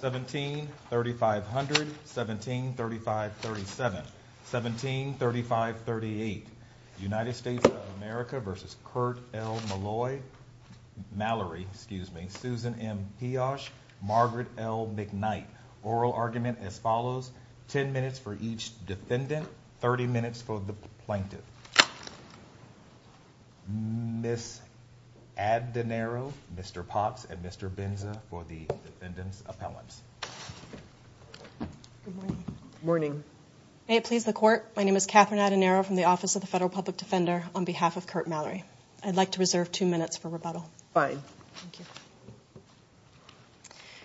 17-3500 17-3537 17-3538 USA v. Kurt L. Mallory, Susan M. Piosh, Margaret L. McKnight Oral argument as follows, 10 minutes for each defendant, 30 minutes for the plaintiff. Ms. Addenaro, Mr. Pox, and Mr. Binza for the defendant's appellants. Good morning. Good morning. May it please the Court, my name is Catherine Addenaro from the Office of the Federal Public Defender on behalf of Kurt Mallory. I'd like to reserve two minutes for rebuttal. Fine. Thank you.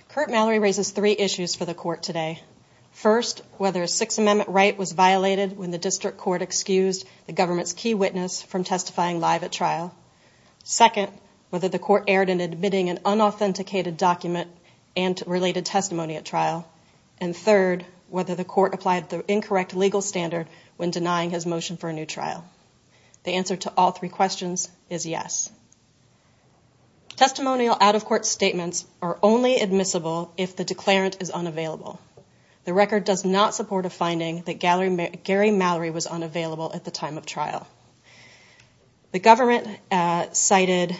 Kurt Mallory raises three issues for the Court today. First, whether a Sixth Amendment right was violated when the District Court excused the government's key witness from testifying live at trial. Second, whether the Court erred in admitting an unauthenticated document and related testimony at trial. And third, whether the Court applied the incorrect legal standard when denying his motion for a new trial. The answer to all three questions is yes. Testimonial out-of-court statements are only admissible if the declarant is unavailable. The record does not support a finding that Gary Mallory was unavailable at the time of trial. The government cited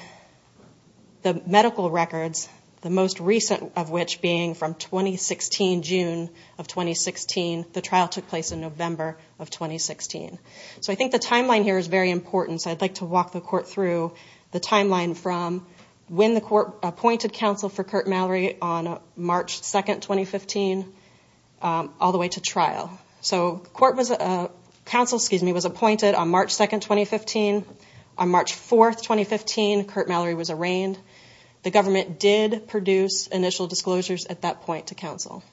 the medical records, the most recent of which being from 2016, June of 2016. The trial took place in November of 2016. So I think the timeline here is very important. So I'd like to walk the Court through the timeline from when the Court appointed counsel for Kurt Mallory on March 2, 2015, all the way to trial. So counsel was appointed on March 2, 2015. On March 4, 2015, Kurt Mallory was arraigned. The government did produce initial disclosures at that point to counsel.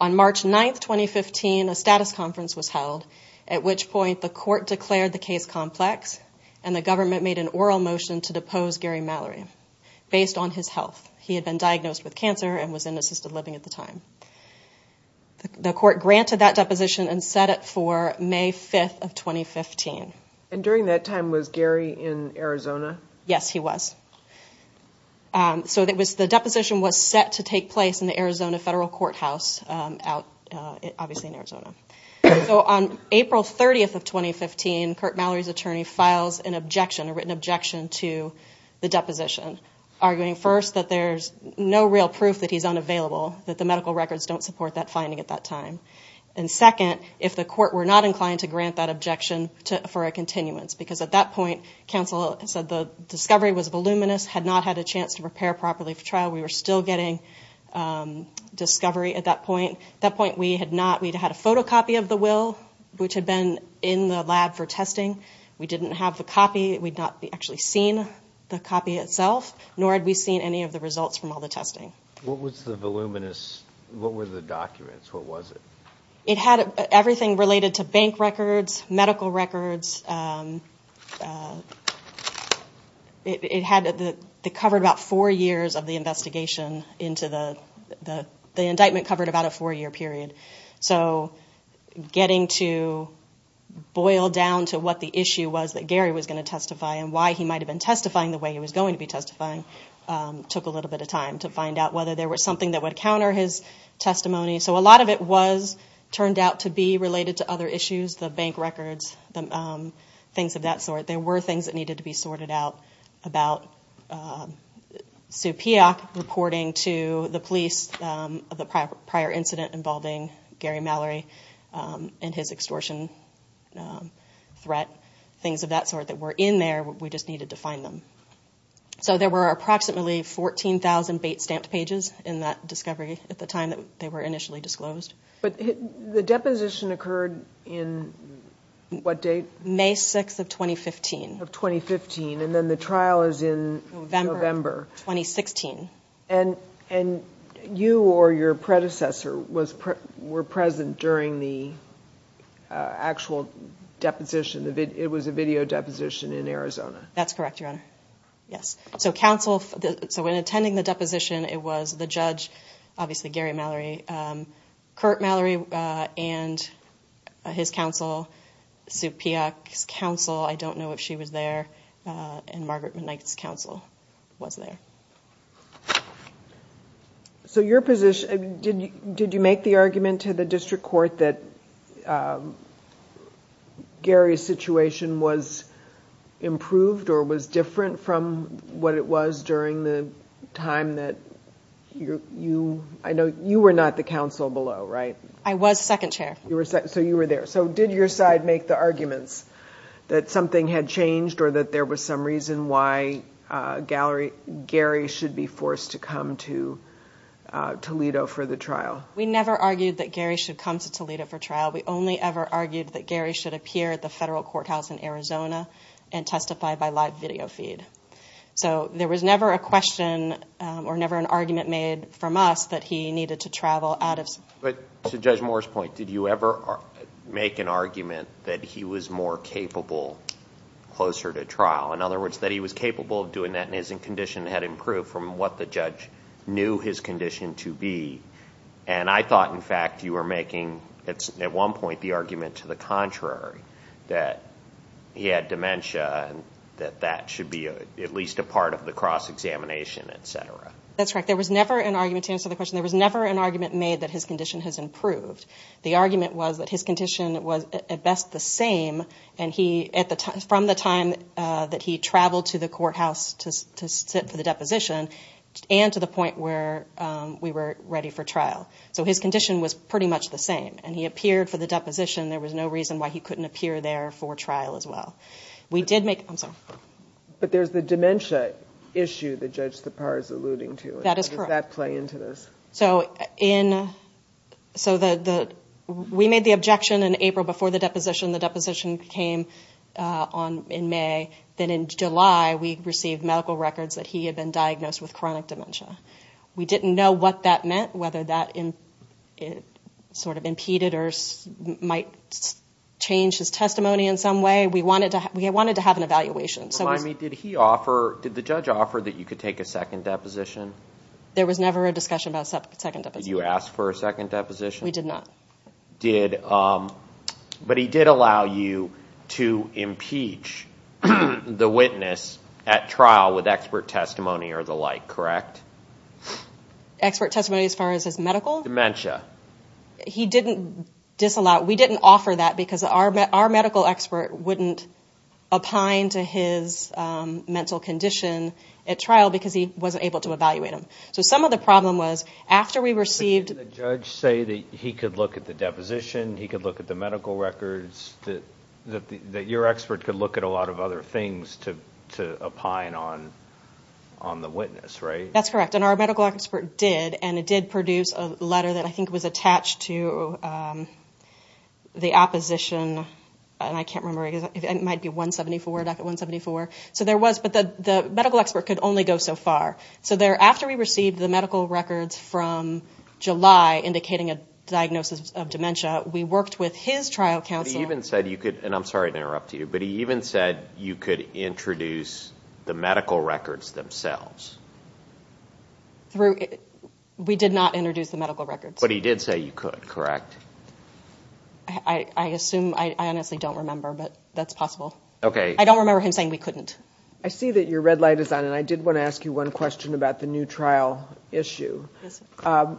On March 9, 2015, a status conference was held, at which point the Court declared the case complex and the government made an oral motion to depose Gary Mallory based on his health. He had been diagnosed with cancer and was in assisted living at the time. The Court granted that deposition and set it for May 5, 2015. And during that time, was Gary in Arizona? Yes, he was. So the deposition was set to take place in the Arizona Federal Courthouse, obviously in Arizona. So on April 30, 2015, Kurt Mallory's attorney files an objection, a written objection to the deposition, arguing first that there's no real proof that he's unavailable, that the medical records don't support that finding at that time. And second, if the Court were not inclined to grant that objection for a continuance, because at that point counsel said the discovery was voluminous, had not had a chance to prepare properly for trial. We were still getting discovery at that point. At that point, we had not. We'd had a photocopy of the will, which had been in the lab for testing. We didn't have the copy. We'd not actually seen the copy itself, nor had we seen any of the results from all the testing. What was the voluminous? What were the documents? What was it? It had everything related to bank records, medical records. It covered about four years of the investigation. The indictment covered about a four-year period. So getting to boil down to what the issue was that Gary was going to testify and why he might have been testifying the way he was going to be testifying took a little bit of time to find out whether there was something that would counter his testimony. So a lot of it turned out to be related to other issues, the bank records, things of that sort. There were things that needed to be sorted out about Sue Peock reporting to the police of the prior incident involving Gary Mallory and his extortion threat, things of that sort that were in there. We just needed to find them. So there were approximately 14,000 bait-stamped pages in that discovery at the time that they were initially disclosed. But the deposition occurred in what date? May 6 of 2015. Of 2015, and then the trial is in November. November of 2016. And you or your predecessor were present during the actual deposition. It was a video deposition in Arizona. That's correct, Your Honor. Yes. So when attending the deposition, it was the judge, obviously Gary Mallory, Kurt Mallory and his counsel, Sue Peock's counsel, I don't know if she was there, and Margaret McKnight's counsel was there. So your position, did you make the argument to the district court that Gary's situation was improved or was different from what it was during the time that you were not the counsel below, right? I was second chair. So you were there. So did your side make the arguments that something had changed or that there was some reason why Gary should be forced to come to Toledo for the trial? We never argued that Gary should come to Toledo for trial. We only ever argued that Gary should appear at the federal courthouse in Arizona and testify by live video feed. So there was never a question or never an argument made from us that he needed to travel out of. But to Judge Moore's point, did you ever make an argument that he was more capable closer to trial? In other words, that he was capable of doing that and his condition had improved from what the judge knew his condition to be. And I thought, in fact, you were making at one point the argument to the contrary, that he had dementia and that that should be at least a part of the cross-examination, et cetera. That's correct. There was never an argument to answer the question. There was never an argument made that his condition has improved. The argument was that his condition was at best the same from the time that he traveled to the courthouse to sit for the deposition and to the point where we were ready for trial. So his condition was pretty much the same, and he appeared for the deposition. There was no reason why he couldn't appear there for trial as well. We did make – I'm sorry. But there's the dementia issue that Judge Sipar is alluding to. That is correct. How did that play into this? So we made the objection in April before the deposition. The deposition came in May. Then in July we received medical records that he had been diagnosed with chronic dementia. We didn't know what that meant, whether that sort of impeded or might change his testimony in some way. We wanted to have an evaluation. Remind me, did the judge offer that you could take a second deposition? There was never a discussion about a second deposition. Did you ask for a second deposition? We did not. But he did allow you to impeach the witness at trial with expert testimony or the like, correct? Expert testimony as far as his medical? Dementia. He didn't disallow. We didn't offer that because our medical expert wouldn't opine to his mental condition at trial because he wasn't able to evaluate him. So some of the problem was after we received – But didn't the judge say that he could look at the deposition, he could look at the medical records, that your expert could look at a lot of other things to opine on the witness, right? That's correct, and our medical expert did, and it did produce a letter that I think was attached to the opposition. I can't remember. It might be 174, docket 174. But the medical expert could only go so far. So after we received the medical records from July indicating a diagnosis of dementia, we worked with his trial counsel. He even said you could – and I'm sorry to interrupt you – but he even said you could introduce the medical records themselves. We did not introduce the medical records. But he did say you could, correct? I assume – I honestly don't remember, but that's possible. Okay. I don't remember him saying we couldn't. I see that your red light is on, and I did want to ask you one question about the new trial issue. Yes, sir.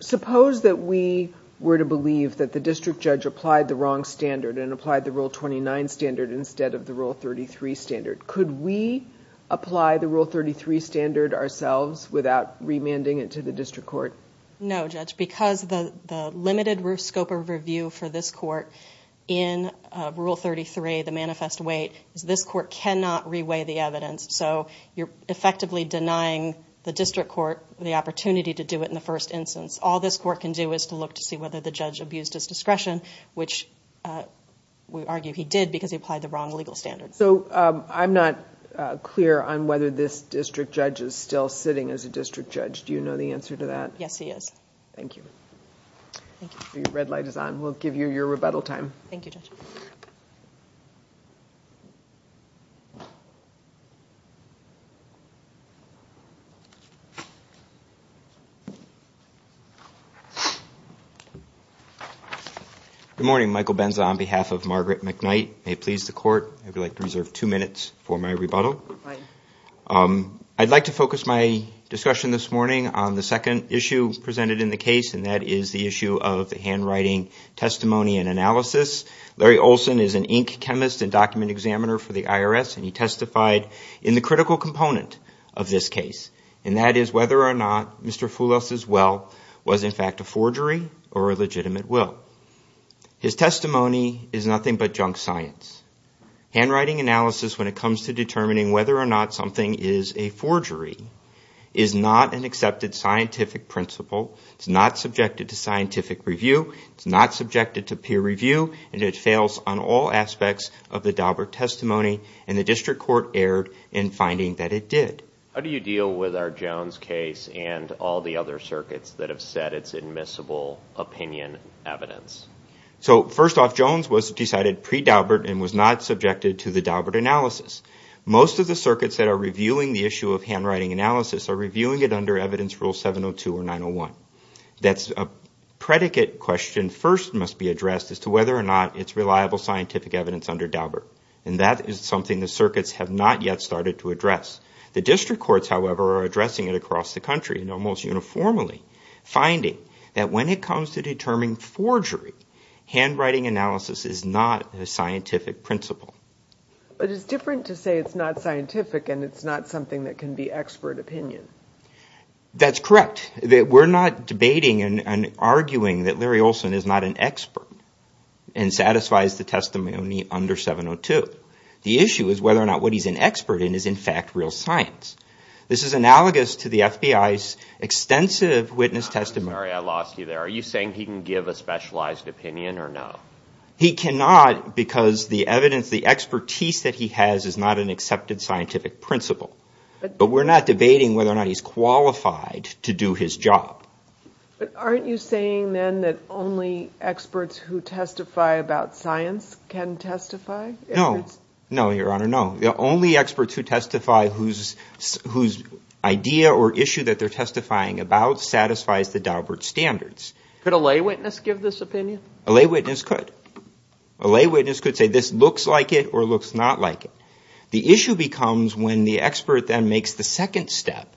Suppose that we were to believe that the district judge applied the wrong standard and applied the Rule 29 standard instead of the Rule 33 standard. Could we apply the Rule 33 standard ourselves without remanding it to the district court? No, Judge, because the limited scope of review for this court in Rule 33, the manifest weight, is this court cannot reweigh the evidence. So you're effectively denying the district court the opportunity to do it in the first instance. All this court can do is to look to see whether the judge abused his discretion, which we argue he did because he applied the wrong legal standard. So I'm not clear on whether this district judge is still sitting as a district judge. Do you know the answer to that? Yes, he is. Thank you. Thank you. Your red light is on. We'll give you your rebuttal time. Thank you, Judge. Good morning. Michael Benza on behalf of Margaret McKnight. May it please the court, I would like to reserve two minutes for my rebuttal. Right. I'd like to focus my discussion this morning on the second issue presented in the case, and that is the issue of the handwriting testimony and analysis. Larry Olson is an ink chemist and document examiner for the IRS, and he testified in the critical component of this case, and that is whether or not Mr. Foulis' will was in fact a forgery or a legitimate will. His testimony is nothing but junk science. Handwriting analysis, when it comes to determining whether or not something is a forgery, is not an accepted scientific principle. It's not subjected to scientific review. It's not subjected to peer review, and it fails on all aspects of the Daubert testimony, and the district court erred in finding that it did. How do you deal with our Jones case and all the other circuits that have said it's admissible opinion evidence? So first off, Jones was decided pre-Daubert and was not subjected to the Daubert analysis. Most of the circuits that are reviewing the issue of handwriting analysis are reviewing it under evidence rule 702 or 901. That's a predicate question first must be addressed as to whether or not it's reliable scientific evidence under Daubert, and that is something the circuits have not yet started to address. The district courts, however, are addressing it across the country and almost uniformly, finding that when it comes to determining forgery, handwriting analysis is not a scientific principle. But it's different to say it's not scientific and it's not something that can be expert opinion. That's correct. We're not debating and arguing that Larry Olson is not an expert and satisfies the testimony under 702. The issue is whether or not what he's an expert in is in fact real science. This is analogous to the FBI's extensive witness testimony. I'm sorry, I lost you there. Are you saying he can give a specialized opinion or no? He cannot because the evidence, the expertise that he has is not an accepted scientific principle. But we're not debating whether or not he's qualified to do his job. But aren't you saying then that only experts who testify about science can testify? No. No, Your Honor, no. The only experts who testify whose idea or issue that they're testifying about satisfies the Daubert standards. Could a lay witness give this opinion? A lay witness could. A lay witness could say this looks like it or looks not like it. The issue becomes when the expert then makes the second step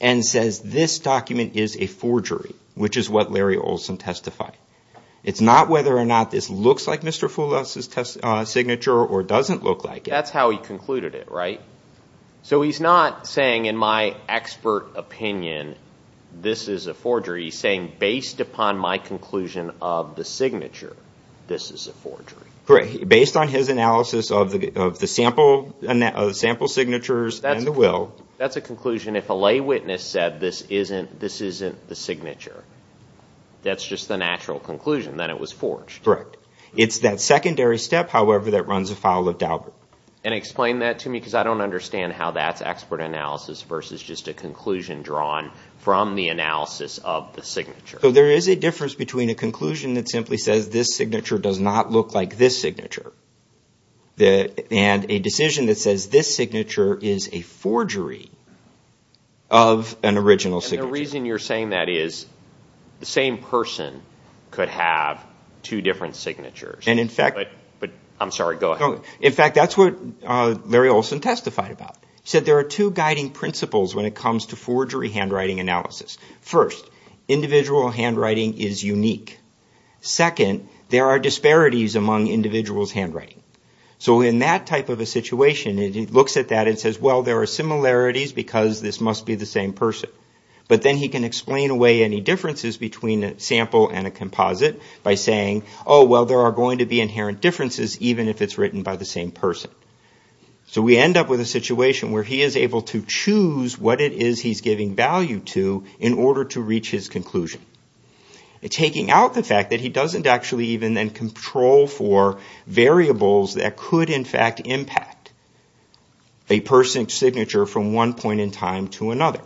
and says this document is a forgery, which is what Larry Olson testified. It's not whether or not this looks like Mr. Foulas' signature or doesn't look like it. That's how he concluded it, right? So he's not saying in my expert opinion this is a forgery. He's saying based upon my conclusion of the signature, this is a forgery. Correct. Based on his analysis of the sample signatures and the will. That's a conclusion if a lay witness said this isn't the signature. That's just the natural conclusion that it was forged. Correct. It's that secondary step, however, that runs afoul of Daubert. Explain that to me because I don't understand how that's expert analysis versus just a conclusion drawn from the analysis of the signature. There is a difference between a conclusion that simply says this signature does not look like this signature and a decision that says this signature is a forgery of an original signature. The reason you're saying that is the same person could have two different signatures. I'm sorry, go ahead. In fact, that's what Larry Olson testified about. He said there are two guiding principles when it comes to forgery handwriting analysis. First, individual handwriting is unique. Second, there are disparities among individuals' handwriting. So in that type of a situation, he looks at that and says, well, there are similarities because this must be the same person. But then he can explain away any differences between a sample and a composite by saying, oh, well, there are going to be inherent differences even if it's written by the same person. So we end up with a situation where he is able to choose what it is he's giving value to in order to reach his conclusion. Taking out the fact that he doesn't actually even then control for variables that could, in fact, impact a person's signature from one point in time to another.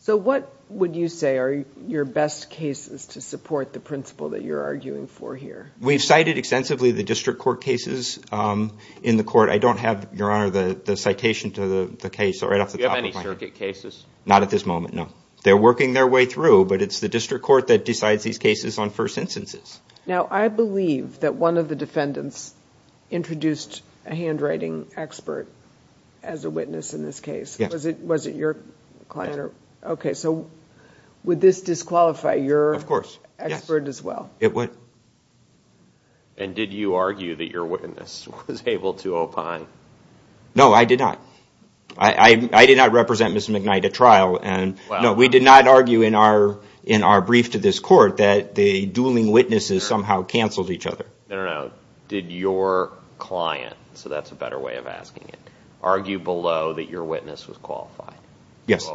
So what would you say are your best cases to support the principle that you're arguing for here? We've cited extensively the district court cases in the court. I don't have, Your Honor, the citation to the case right off the top of my head. Do you have any circuit cases? Not at this moment, no. They're working their way through, but it's the district court that decides these cases on first instances. Now, I believe that one of the defendants introduced a handwriting expert as a witness in this case. Yes. Was it your client? Yes. Okay. So would this disqualify your expert as well? Of course. Yes, it would. And did you argue that your witness was able to opine? No, I did not. I did not represent Mr. McKnight at trial. No, we did not argue in our brief to this court that the dueling witnesses somehow canceled each other. I don't know. Did your client, so that's a better way of asking it, argue below that your witness was qualified? Yes.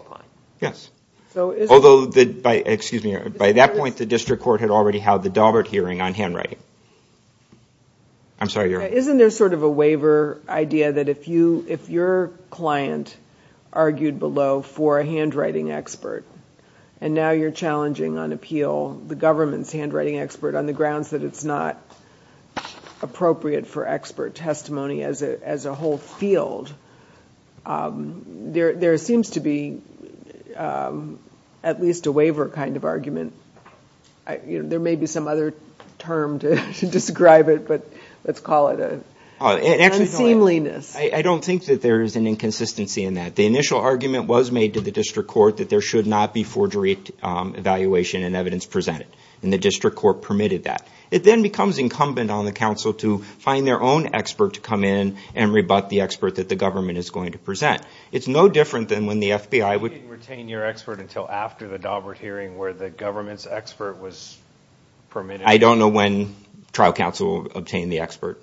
Yes. Although, excuse me, by that point the district court had already had the Daubert hearing on handwriting. I'm sorry, Your Honor. Isn't there sort of a waiver idea that if your client argued below for a handwriting expert and now you're challenging on appeal the government's handwriting expert on the grounds that it's not appropriate for expert testimony as a whole field, there seems to be at least a waiver kind of argument. There may be some other term to describe it, but let's call it an unseemliness. I don't think that there is an inconsistency in that. The initial argument was made to the district court that there should not be forgery evaluation and evidence presented. And the district court permitted that. It then becomes incumbent on the counsel to find their own expert to come in and rebut the expert that the government is going to present. It's no different than when the FBI would They didn't retain your expert until after the Daubert hearing where the government's expert was permitted. I don't know when trial counsel obtained the expert.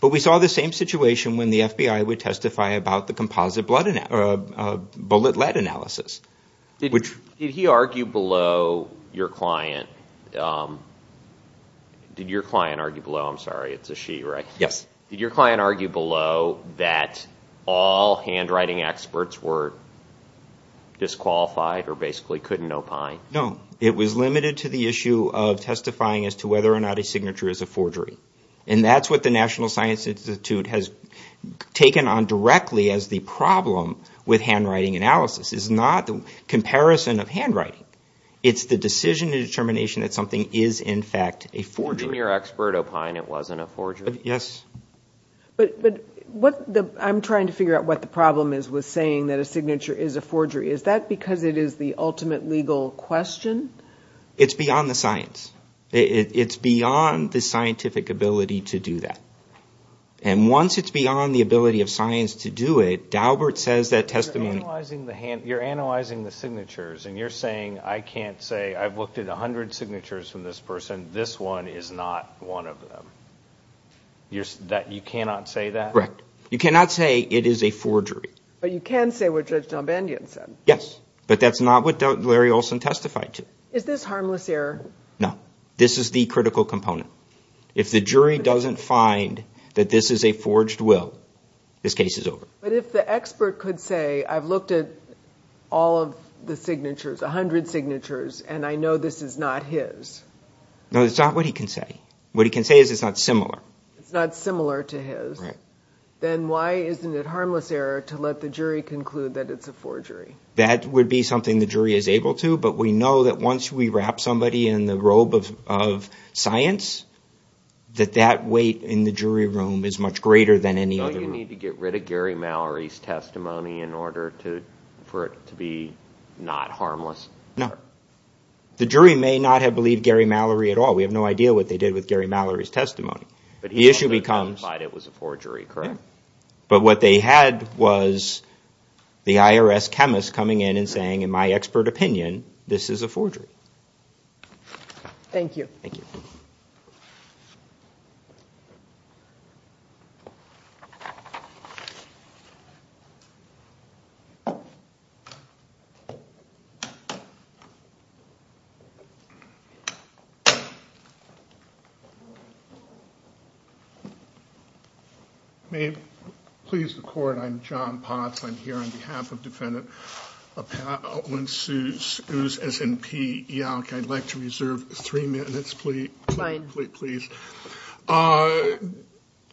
But we saw the same situation when the FBI would testify about the composite bullet lead analysis. Did he argue below your client? Did your client argue below? I'm sorry, it's a she, right? Yes. Did your client argue below that all handwriting experts were disqualified or basically couldn't opine? No. It was limited to the issue of testifying as to whether or not a signature is a forgery. And that's what the National Science Institute has taken on directly as the problem with handwriting analysis. It's not the comparison of handwriting. It's the decision and determination that something is in fact a forgery. But didn't your expert opine it wasn't a forgery? Yes. But I'm trying to figure out what the problem is with saying that a signature is a forgery. Is that because it is the ultimate legal question? It's beyond the science. It's beyond the scientific ability to do that. And once it's beyond the ability of science to do it, Daubert says that testimony You're analyzing the signatures and you're saying, I can't say I've looked at 100 signatures from this person. This one is not one of them. You cannot say that? Correct. You cannot say it is a forgery. But you can say what Judge Dombandian said. Yes. But that's not what Larry Olson testified to. Is this harmless error? No. This is the critical component. If the jury doesn't find that this is a forged will, this case is over. But if the expert could say, I've looked at all of the signatures, 100 signatures, and I know this is not his. No, that's not what he can say. What he can say is it's not similar. It's not similar to his. Then why isn't it harmless error to let the jury conclude that it's a forgery? That would be something the jury is able to, but we know that once we wrap somebody in the robe of science, that that weight in the jury room is much greater than any other room. Do we need to get rid of Gary Mallory's testimony in order for it to be not harmless? No. The jury may not have believed Gary Mallory at all. We have no idea what they did with Gary Mallory's testimony. But he also testified it was a forgery, correct? But what they had was the IRS chemist coming in and saying, in my expert opinion, this is a forgery. Thank you. Thank you. Thank you. May it please the Court, I'm John Potts. I'm here on behalf of Defendant Appellant Suess, S-N-P-E-L-L-K. I'd like to reserve three minutes, please. Fine. Please.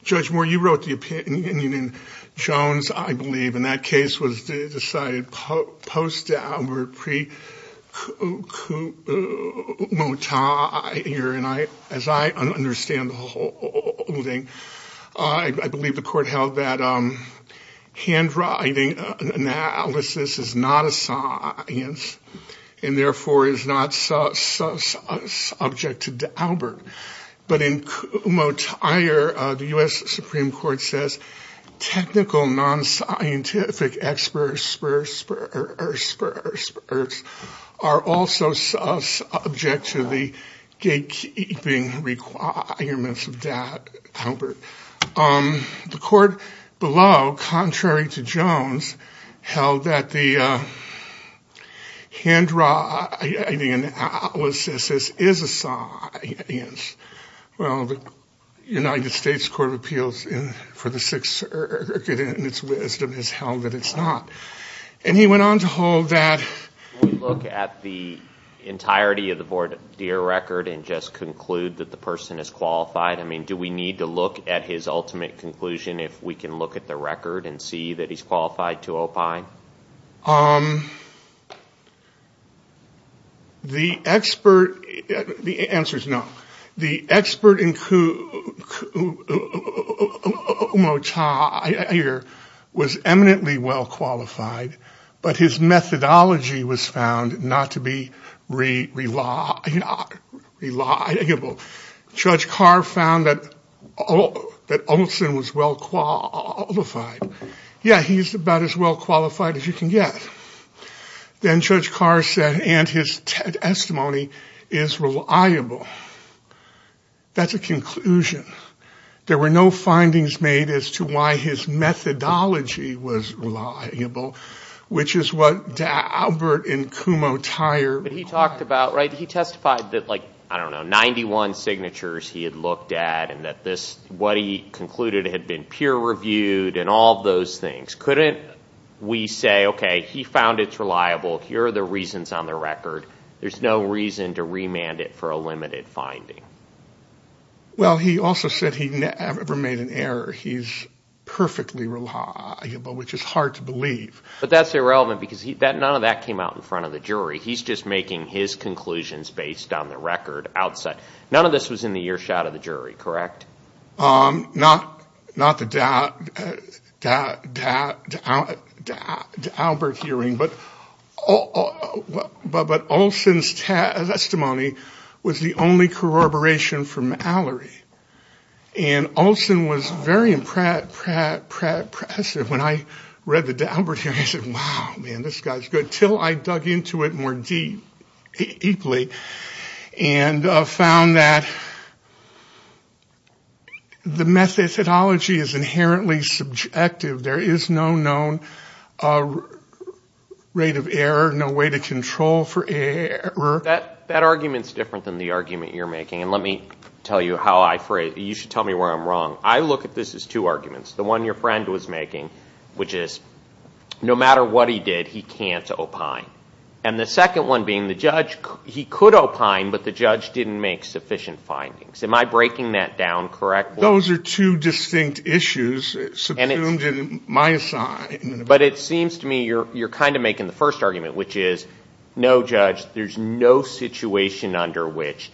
Judge Moore, you wrote the opinion in Jones, I believe, and that case was decided post-Daubert, pre-Kuhlmutter. And as I understand the whole thing, I believe the Court held that handwriting analysis is not a science But in Kuhlmutter, the U.S. Supreme Court says, technical non-scientific experts are also subject to the gatekeeping requirements of Daubert. The Court below, contrary to Jones, held that the handwriting analysis is a science. Well, the United States Court of Appeals for the Sixth Circuit, in its wisdom, has held that it's not. And he went on to hold that Can we look at the entirety of the voir dire record and just conclude that the person is qualified? I mean, do we need to look at his ultimate conclusion, if we can look at the record and see that he's qualified to opine? The answer is no. The expert in Kuhlmutter was eminently well qualified, but his methodology was found not to be reliable. Judge Carr found that Olson was well qualified. Yeah, he's about as well qualified as you can get. Then Judge Carr said, and his testimony is reliable. That's a conclusion. There were no findings made as to why his methodology was reliable, which is what Daubert and Kumho-Tyre required. He testified that, I don't know, 91 signatures he had looked at and that what he concluded had been peer-reviewed and all those things. Couldn't we say, okay, he found it's reliable. Here are the reasons on the record. There's no reason to remand it for a limited finding. Well, he also said he never made an error. He's perfectly reliable, which is hard to believe. He's just making his conclusions based on the record outside. None of this was in the earshot of the jury, correct? Not the Daubert hearing, but Olson's testimony was the only corroboration from Mallory. Olson was very impressive when I read the Daubert hearing. I said, wow, man, this guy's good. Until I dug into it more deeply and found that the methodology is inherently subjective. There is no known rate of error, no way to control for error. That argument's different than the argument you're making. And let me tell you how I phrase it. You should tell me where I'm wrong. I look at this as two arguments. The one your friend was making, which is no matter what he did, he can't opine. And the second one being the judge, he could opine, but the judge didn't make sufficient findings. Am I breaking that down correctly? Those are two distinct issues subdued in my side. But it seems to me you're kind of making the first argument, which is no, Judge, there's no situation under which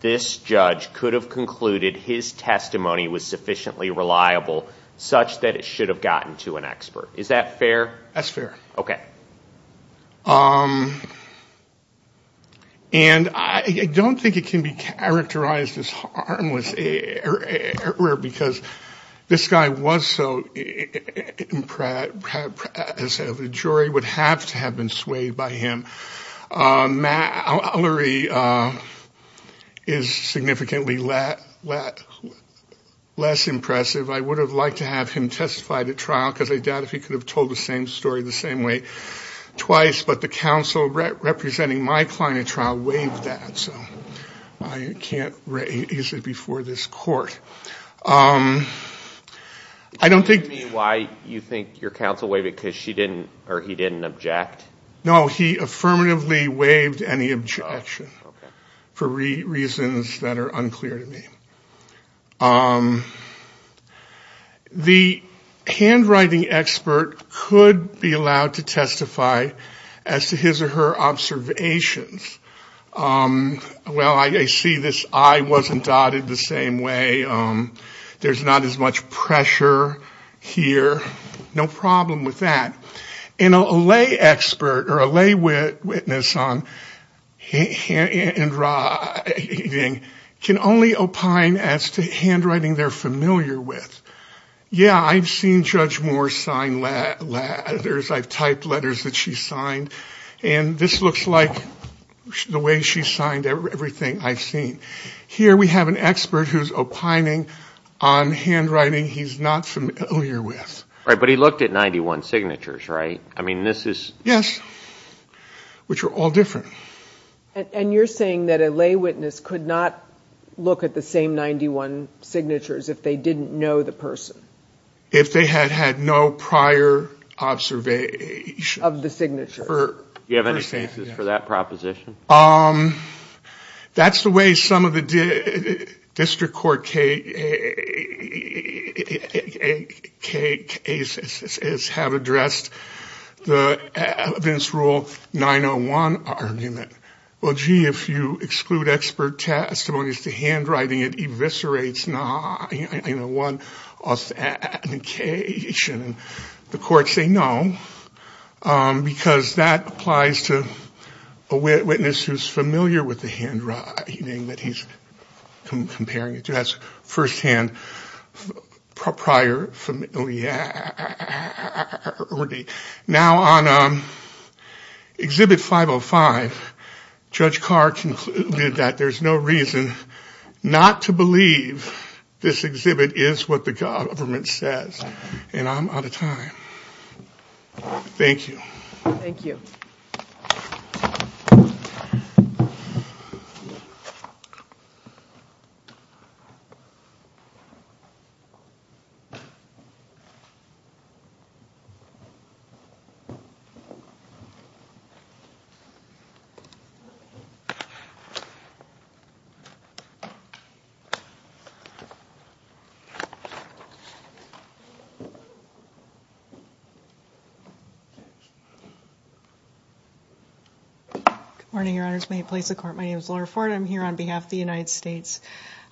this judge could have concluded his testimony was sufficiently reliable, such that it should have gotten to an expert. Is that fair? That's fair. Okay. And I don't think it can be characterized as harmless error, because this guy was so, as a jury, would have to have been swayed by him. Mallory is significantly less impressive. I would have liked to have him testified at trial, because I doubt if he could have told the same story the same way twice. But the counsel representing my client at trial waived that. I can't raise it before this court. I don't think. Why do you think your counsel waived it? Because she didn't or he didn't object? No, he affirmatively waived any objection for reasons that are unclear to me. The handwriting expert could be allowed to testify as to his or her observations. Well, I see this eye wasn't dotted the same way. There's not as much pressure here. No problem with that. And a lay expert or a lay witness on handwriting can only opine as to handwriting they're familiar with. Yeah, I've seen Judge Moore sign letters. I've typed letters that she's signed. And this looks like the way she's signed everything I've seen. Here we have an expert who's opining on handwriting he's not familiar with. But he looked at 91 signatures, right? Yes, which are all different. And you're saying that a lay witness could not look at the same 91 signatures if they didn't know the person? If they had had no prior observation of the signature. Do you have any cases for that proposition? That's the way some of the district court cases have addressed the evidence rule 901 argument. Well, gee, if you exclude expert testimonies to handwriting, it eviscerates 901 authentication. The courts say no, because that applies to a witness who's familiar with the handwriting that he's comparing it to. That's firsthand prior familiarity. Now, on Exhibit 505, Judge Carr concluded that there's no reason not to believe this exhibit is what the government says. I'm out of time. Thank you. Good morning, Your Honors. May it please the court. My name is Laura Ford. I'm here on behalf of the United States.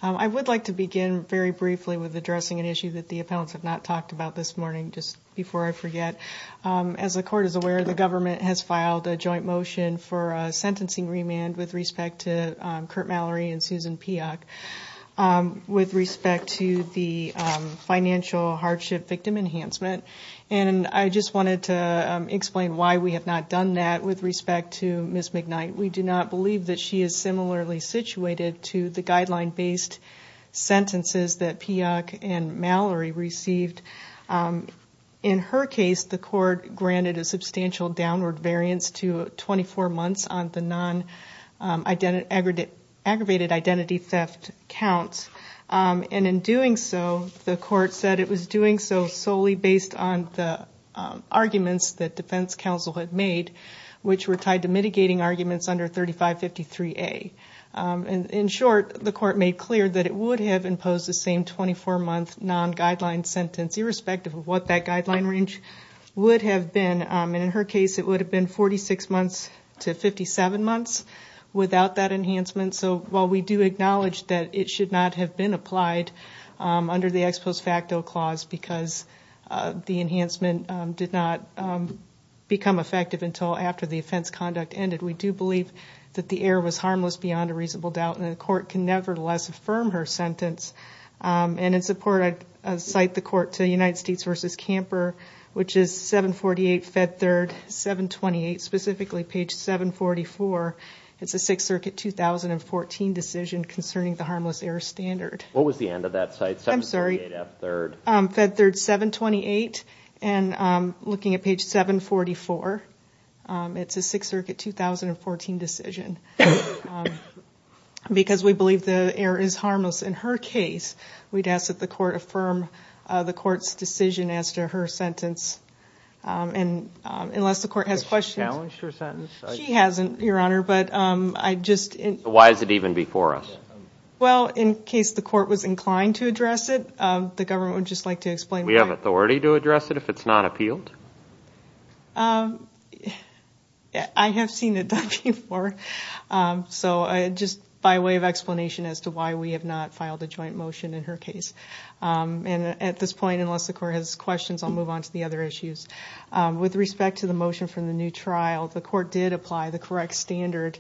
I would like to begin very briefly with addressing an issue that the appellants have not talked about this morning. Just before I forget, as the court is aware, the government has filed a joint motion for a sentencing remand with respect to Kurt Mallory and Susan Piak. With respect to the financial hardship victim enhancement. And I just wanted to explain why we have not done that with respect to Ms. McKnight. We do not believe that she is similarly situated to the guideline-based sentences that Piak and Mallory received. In her case, the court granted a substantial downward variance to 24 months on the non-aggravated identity theft case. And in doing so, the court said it was doing so solely based on the arguments that defense counsel had made, which were tied to mitigating arguments under 3553A. In short, the court made clear that it would have imposed the same 24-month non-guideline sentence, irrespective of what that guideline range would have been. And in her case, it would have been 46 months to 57 months without that enhancement. But it should not have been applied under the ex post facto clause, because the enhancement did not become effective until after the offense conduct ended. We do believe that the error was harmless beyond a reasonable doubt, and the court can nevertheless affirm her sentence. And in support, I cite the court to United States v. Camper, which is 748 Fed 3rd, 728, specifically page 744. It's a 6th Circuit 2014 decision concerning the harmless error standard. What was the end of that cite, 748 F 3rd? Fed 3rd, 728, and looking at page 744, it's a 6th Circuit 2014 decision. Because we believe the error is harmless in her case, we'd ask that the court affirm the court's decision as to her sentence. And unless the court has questions... Why is it even before us? Well, in case the court was inclined to address it, the government would just like to explain why. We have authority to address it if it's not appealed? I have seen it done before. So just by way of explanation as to why we have not filed a joint motion in her case. And at this point, unless the court has questions, I'll move on to the other issues. With respect to the motion from the new trial, the court did apply the correct standard.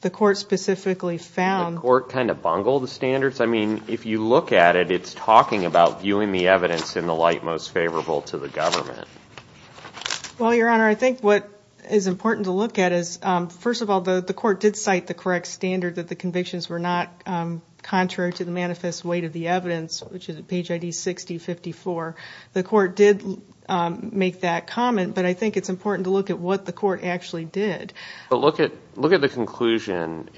The court specifically found... The court kind of bungled the standards? I mean, if you look at it, it's talking about viewing the evidence in the light most favorable to the government. Well, Your Honor, I think what is important to look at is, first of all, the court did cite the correct standard that the convictions were not contrary to the manifest weight of the evidence, which is at page ID 6054. The court did make that comment, but I think it's important to look at what the court actually did. But look at the conclusion.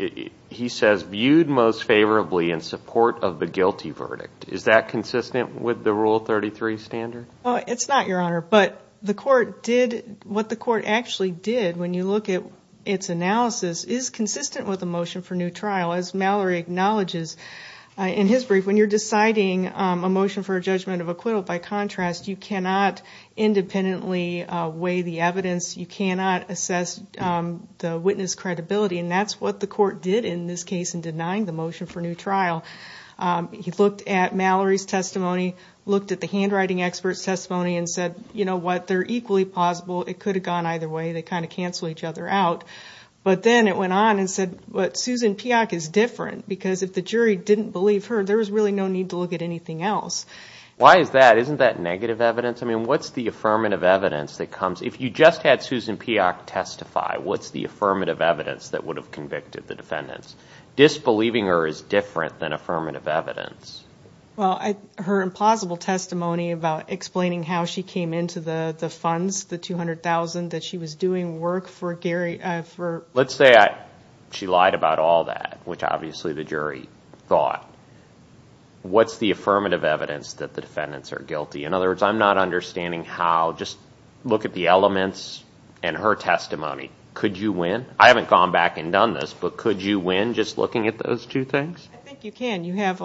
He says, viewed most favorably in support of the guilty verdict. Is that consistent with the Rule 33 standard? It's not, Your Honor, but what the court actually did, when you look at its analysis, is consistent with the motion for new trial. As Mallory acknowledges in his brief, when you're deciding a motion for a judgment of acquittal, by contrast, you cannot independently weigh the evidence, you cannot assess the witness credibility. And that's what the court did in this case in denying the motion for new trial. He looked at Mallory's testimony, looked at the handwriting expert's testimony, and said, you know what, they're equally plausible, it could have gone either way, they kind of cancel each other out. But then it went on and said, but Susan Peock is different, because if the jury didn't believe her, there was really no need to look at anything else. Why is that? Isn't that negative evidence? I mean, what's the affirmative evidence that comes, if you just had Susan Peock testify, what's the affirmative evidence that would have convicted the defendants? Disbelieving her is different than affirmative evidence. Well, her implausible testimony about explaining how she came into the funds, the $200,000, that she was doing work for Gary... Let's say she lied about all that, which obviously the jury thought. What's the affirmative evidence that the defendants are guilty? In other words, I'm not understanding how, just look at the elements and her testimony. Could you win? I haven't gone back and done this, but could you win just looking at those two things? I think you can. You have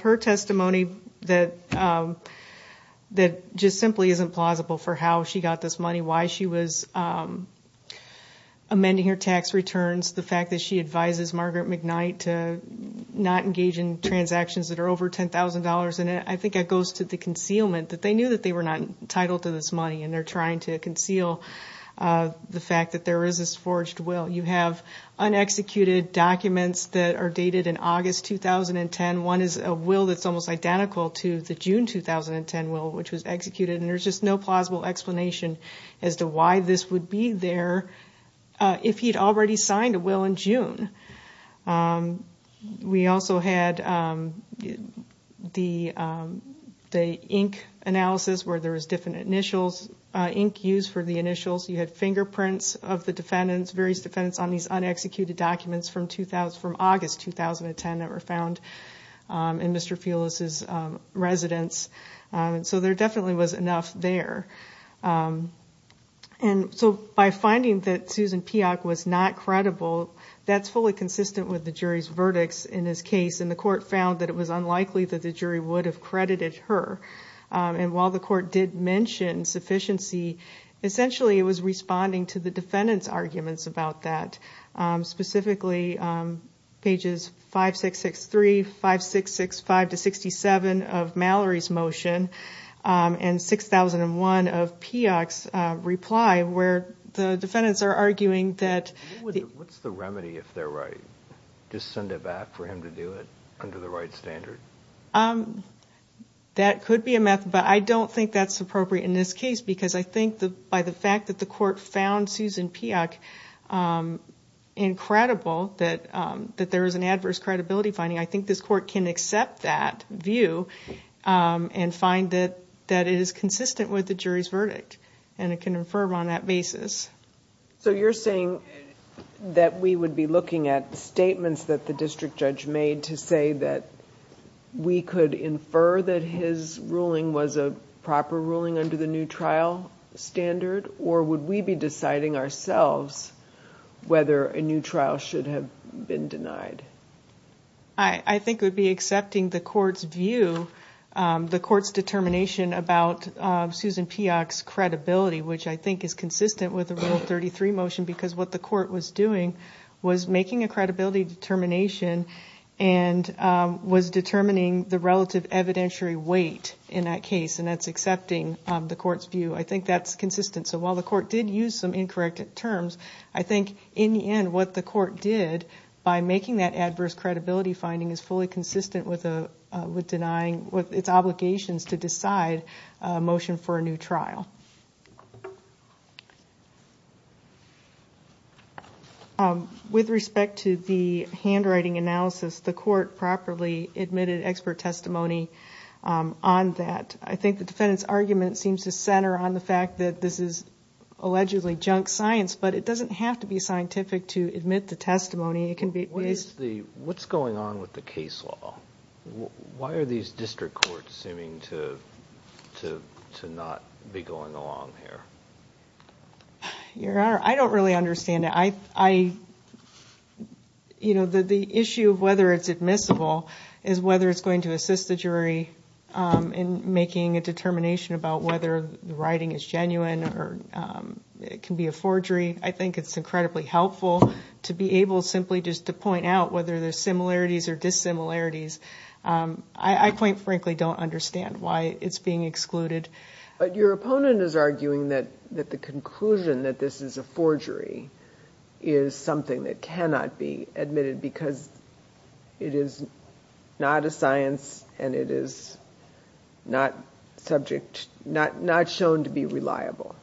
her testimony that just simply isn't plausible for how she got this money, why she was amending her tax returns, the fact that she advises Margaret McKnight to not engage in transactions that are over $10,000. And I think it goes to the concealment, that they knew that they were not entitled to this money, and they're trying to conceal the fact that there is this forged will. You have unexecuted documents that are dated in August 2010. One is a will that's almost identical to the June 2010 will, which was executed, and there's just no plausible explanation as to why this would be there if he'd already signed a will in June. We also had the ink analysis, where there was different ink used for the initials. You had fingerprints of the defendants, various defendants on these unexecuted documents from August 2010 that were found in Mr. Fulis' residence. So there definitely was enough there. And so by finding that Susan Peock was not credible, that's fully consistent with the jury's verdicts in this case, and the court found that it was unlikely that the jury would have credited her. And while the court did mention sufficiency, essentially it was responding to the defendants' arguments about that. Specifically, pages 5663, 5665-67 of Mallory's motion, and 6001 of Peock's reply, where the defendants are arguing that... What's the remedy if they're right? Just send it back for him to do it under the right standard? It would be a method, but I don't think that's appropriate in this case, because I think by the fact that the court found Susan Peock incredible, that there was an adverse credibility finding, I think this court can accept that view and find that it is consistent with the jury's verdict, and it can infer on that basis. So you're saying that we would be looking at statements that the district judge made to say that we could infer that his reasoning was correct? That his ruling was a proper ruling under the new trial standard? Or would we be deciding ourselves whether a new trial should have been denied? I think it would be accepting the court's view, the court's determination about Susan Peock's credibility, which I think is consistent with the Rule 33 motion, because what the court was doing was making a credibility determination, and was determining the relative evidentiary weight in this case. And that's accepting the court's view. I think that's consistent. So while the court did use some incorrect terms, I think in the end what the court did, by making that adverse credibility finding, is fully consistent with denying, with its obligations to decide a motion for a new trial. With respect to the handwriting analysis, the court properly admitted expert testimony on that, and I think that's consistent with the court's view. I think the defendant's argument seems to center on the fact that this is allegedly junk science, but it doesn't have to be scientific to admit the testimony. What's going on with the case law? Why are these district courts seeming to not be going along here? Your Honor, I don't really understand it. The issue of whether it's admissible is whether it's going to assist the jury in making a decision. I don't think it's going to assist the jury in making a determination about whether the writing is genuine, or it can be a forgery. I think it's incredibly helpful to be able simply just to point out whether there's similarities or dissimilarities. I quite frankly don't understand why it's being excluded. But your opponent is arguing that the conclusion that this is a forgery is something that cannot be admitted, because it is not a science, and it is not scientific. It's not subject, not shown to be reliable.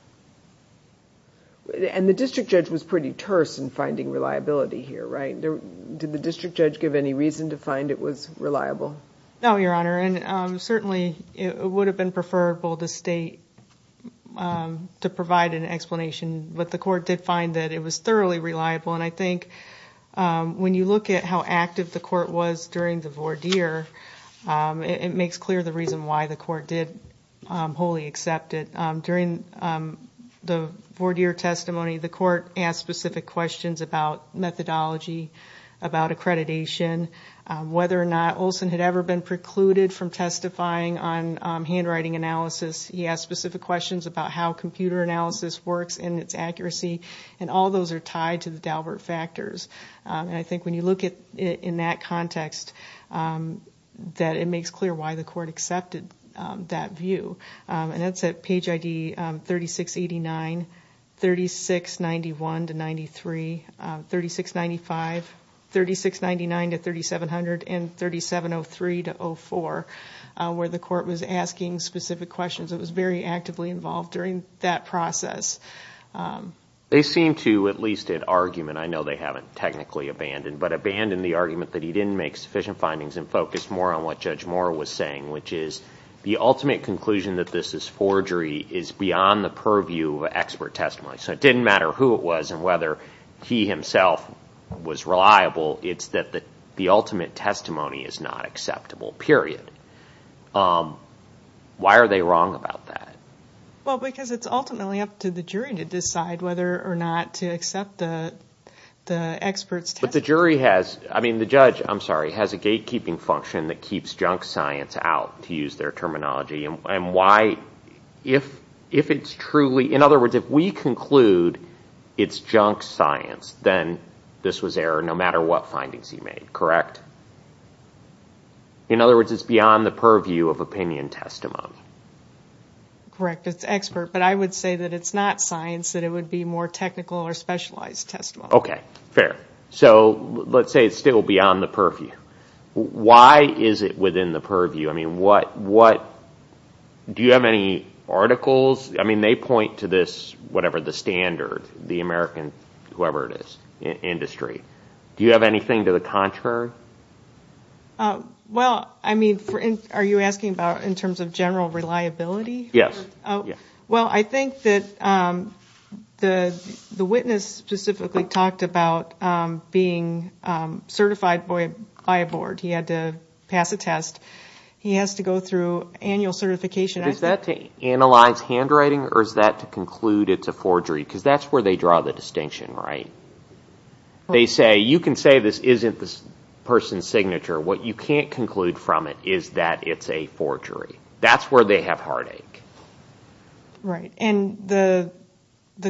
And the district judge was pretty terse in finding reliability here, right? Did the district judge give any reason to find it was reliable? No, Your Honor, and certainly it would have been preferable to state, to provide an explanation, but the court did find that it was thoroughly reliable, and I think when you look at how active the court was during the voir dire, it makes clear the reason why the court did wholly accept it. During the voir dire testimony, the court asked specific questions about methodology, about accreditation, whether or not Olson had ever been precluded from testifying on handwriting analysis. He asked specific questions about how computer analysis works and its accuracy, and all those are tied to the Daubert factors. And I think when you look at it in that context, that it makes clear why the court accepted that view. And that's at page ID 3689, 3691-93, 3695, 3699-3700, and 3703-04, where the court was asking specific questions. It was very actively involved during that process. They seem to, at least in argument, I know they haven't technically abandoned, but abandoned the argument that he didn't make sufficient findings and focused more on what Judge Moore was saying, which is the ultimate conclusion that this is forgery is beyond the purview of expert testimony. So it didn't matter who it was and whether he himself was reliable, it's that the ultimate testimony is not acceptable, period. Why are they wrong about that? Well, because it's ultimately up to the jury to decide whether or not to accept the expert's testimony. But the jury has, I mean, the judge, I'm sorry, has a gatekeeping function that keeps junk science out, to use their terminology, and why, if it's truly, in other words, if we conclude it's junk science, then this was error no matter what findings he made, correct? In other words, it's beyond the purview of opinion testimony. Correct, it's expert, but I would say that it's not science, that it would be more technical or specialized testimony. Okay, fair. So let's say it's still beyond the purview. Why is it within the purview? I mean, do you have any articles? I mean, they point to this, whatever the standard, the American, whoever it is, industry. Do you have anything to the contrary? Well, I mean, are you asking about in terms of general reliability? Yes. Well, I think that the witness specifically talked about being certified by a board. He had to pass a test. He has to go through annual certification. Is that to analyze handwriting, or is that to conclude it's a forgery? Because that's where they draw the distinction, right? They say, you can say this isn't this person's signature. What you can't conclude from it is that it's a forgery. That's where they have heartache. Right, and the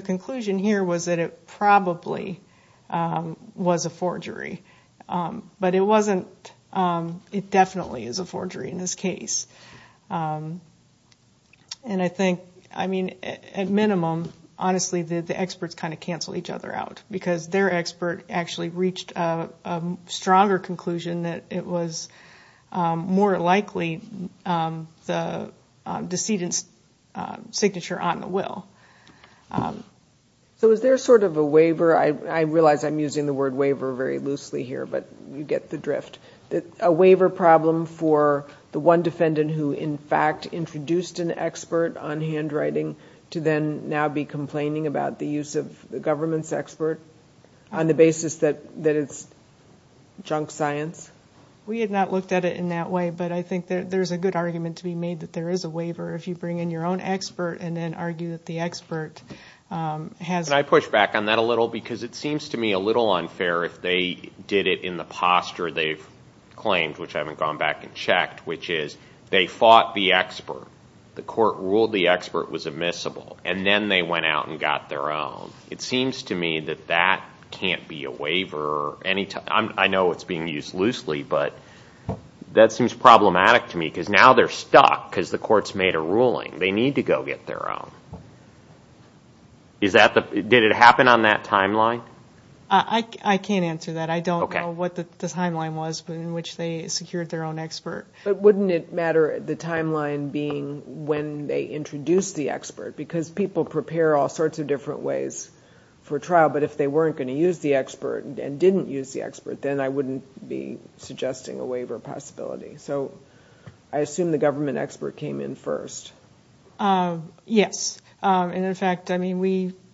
conclusion here was that it probably was a forgery, but it wasn't. It definitely is a forgery in this case. And I think, I mean, at minimum, honestly, the experts kind of cancel each other out, because their expert actually reached a stronger conclusion that it was more likely the decedent's signature on the will. So is there sort of a waiver? I realize I'm using the word waiver very loosely here, but you get the drift. A waiver problem for the one defendant who, in fact, introduced an expert on handwriting to then now be complaining about the use of the government's expert on the basis that it's junk science? We had not looked at it in that way, but I think there's a good argument to be made that there is a waiver. If you bring in your own expert and then argue that the expert has... Can I push back on that a little, because it seems to me a little unfair if they did it in the posture they've claimed, which I haven't gone back and checked, which is they fought the expert. The court ruled the expert was admissible, and then they went out and got their own. It seems to me that that can't be a waiver. I know it's being used loosely, but that seems problematic to me, because now they're stuck, because the court's made a ruling. They need to go get their own. Did it happen on that timeline? I can't answer that. I don't know what the timeline was in which they secured their own expert. But wouldn't it matter, the timeline being when they introduced the expert? Because people prepare all sorts of different ways for trial, but if they weren't going to use the expert and didn't use the expert, then I wouldn't be suggesting a waiver possibility. Yes. And in fact,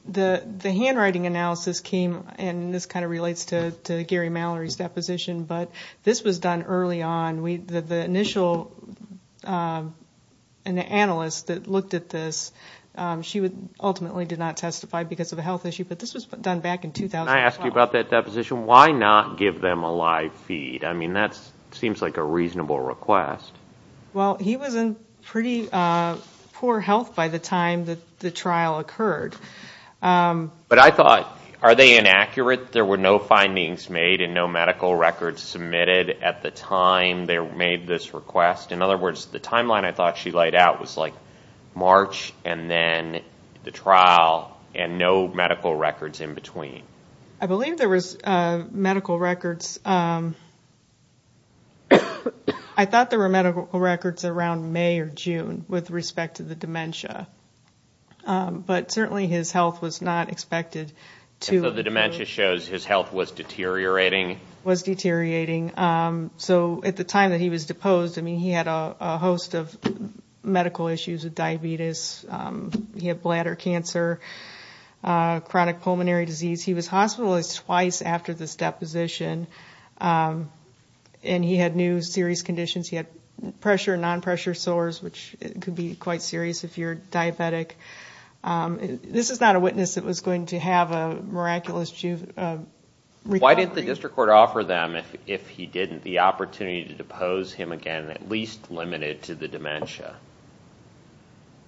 the handwriting analysis came, and this kind of relates to Gary Mallory's deposition, but this was done early on. The initial analyst that looked at this, she ultimately did not testify because of a health issue, but this was done back in 2012. Can I ask you about that deposition? Why not give them a live feed? I mean, that seems like a reasonable request. Well, he was in pretty poor health by the time the trial occurred. But I thought, are they inaccurate? There were no findings made and no medical records submitted at the time they made this request? In other words, the timeline I thought she laid out was like March, and then the trial, and no medical records in between. I believe there was medical records. I thought there were medical records around May or June with respect to the dementia. But certainly his health was not expected to... So the dementia shows his health was deteriorating? Was deteriorating. So at the time that he was deposed, I mean, he had a host of medical issues, diabetes, he had bladder cancer, chronic pulmonary disease. He was hospitalized twice after this deposition, and he had new serious conditions. He had pressure and non-pressure sores, which could be quite serious if you're diabetic. This is not a witness that was going to have a miraculous recovery. Why didn't the district court offer them, if he didn't, the opportunity to depose him again, at least limited to the dementia?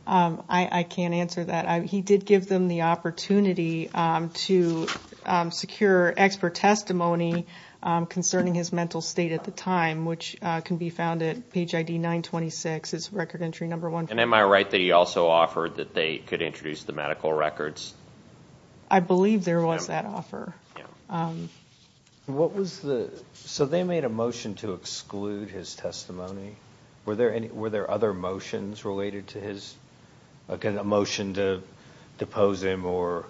I can't answer that. He did give them the opportunity to secure expert testimony concerning his mental state at the time, which can be found at page ID 926, it's record entry number one. And am I right that he also offered that they could introduce the medical records? I believe there was that offer. So they made a motion to exclude his testimony? Were there other motions related to his... A motion to depose him or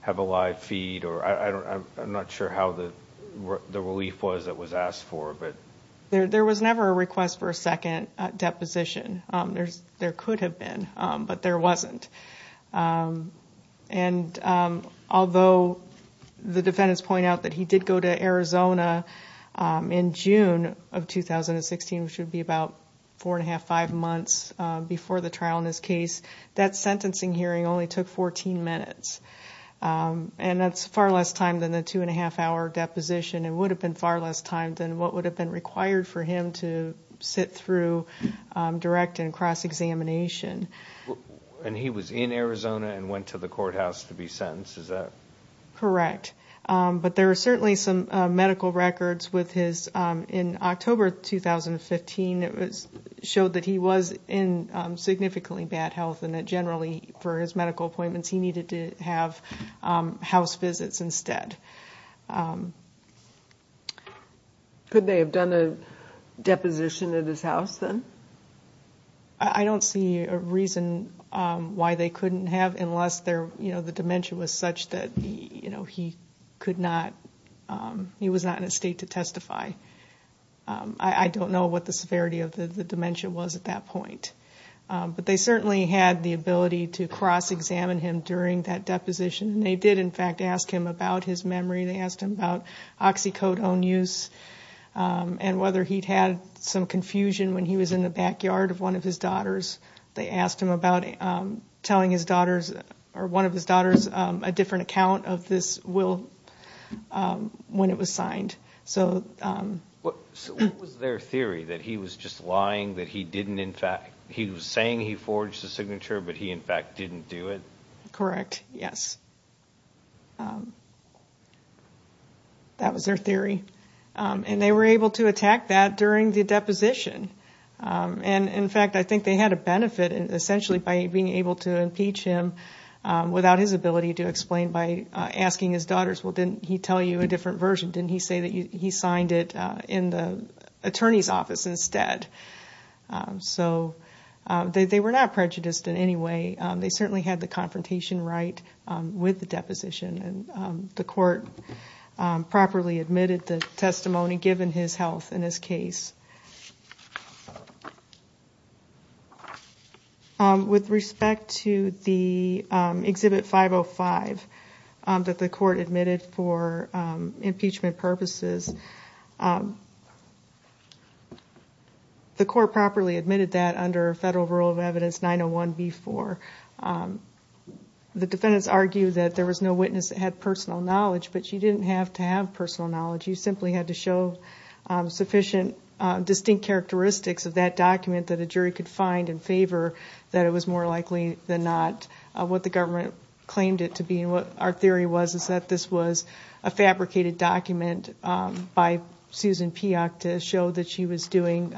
have a live feed? I'm not sure how the relief was that was asked for. There was never a request for a second deposition. There could have been, but there wasn't. And although the defendants point out that he did go to Arizona in June of 2016, which would be about four and a half, five months before the trial in this case, that sentencing hearing only took 14 minutes. And that's far less time than the two and a half hour deposition and would have been far less time than what would have been required for him to sit through direct and cross-examination. And he was in Arizona and went to the courthouse to be sentenced, is that... Correct. But there are certainly some medical records with his... In October 2015, it was showed that he was in significantly bad health and that generally for his medical appointments, he needed to have house visits instead. Could they have done a deposition at his house then? I don't see a reason why they couldn't have, unless the dementia was such that he could not... He was not in a state to testify. I don't know what the severity of the dementia was at that point. But they certainly had the ability to cross-examine him during that deposition. And they did, in fact, ask him about his memory, they asked him about oxycodone use, and whether he'd had some confusion when he was in the backyard of one of his daughters. They asked him about telling one of his daughters a different account of this will when it was signed. What was their theory, that he was just lying, that he didn't in fact... He was saying he forged the signature, but he in fact didn't do it? Correct, yes. That was their theory. And they were able to attack that during the deposition. And in fact, I think they had a benefit essentially by being able to impeach him without his ability to explain by asking his daughters, well, didn't he tell you a different version? Didn't he say that he signed it in the attorney's office instead? So they were not prejudiced in any way. They certainly had the confrontation right with the deposition. And the court properly admitted the testimony, given his health and his case. With respect to the Exhibit 505 that the court admitted for impeachment, the court properly admitted that under Federal Rule of Evidence 901B4. The defendants argued that there was no witness that had personal knowledge, but you didn't have to have personal knowledge. You simply had to show sufficient distinct characteristics of that document that a jury could find in favor, that it was more likely than not what the government claimed it to be. And what our theory was is that this was a fabricated document by Susan Peock to show that she was doing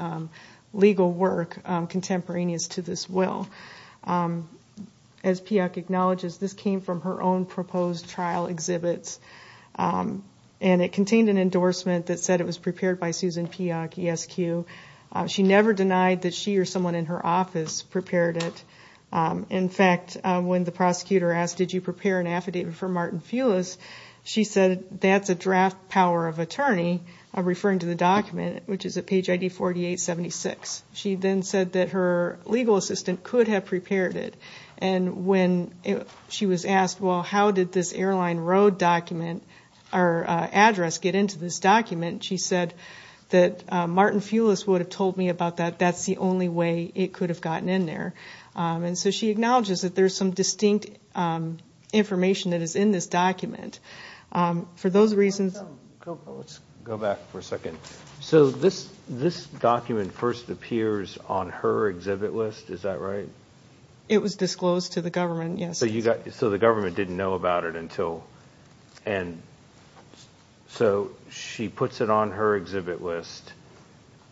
legal work contemporaneous to this will. As Peock acknowledges, this came from her own proposed trial exhibits. And it contained an endorsement that said it was prepared by Susan Peock, ESQ. She never denied that she or someone in her office prepared it. In fact, when the prosecutor asked, did you prepare an affidavit for Martin Fulis, she said, that's a draft power of attorney, referring to the document, which is at page ID 4876. She then said that her legal assistant could have prepared it. And when she was asked, well, how did this airline road document or address get into this document, she said that Martin Fulis would have told me about that. In fact, that's the only way it could have gotten in there. And so she acknowledges that there's some distinct information that is in this document. For those reasons... So this document first appears on her exhibit list, is that right? It was disclosed to the government, yes. So the government didn't know about it until... So she puts it on her exhibit list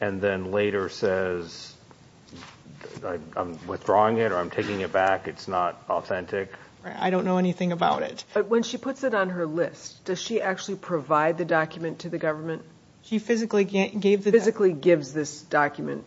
and then later says, I'm withdrawing it or I'm taking it back, it's not authentic? I don't know anything about it. But when she puts it on her list, does she actually provide the document to the government? She physically gives this document,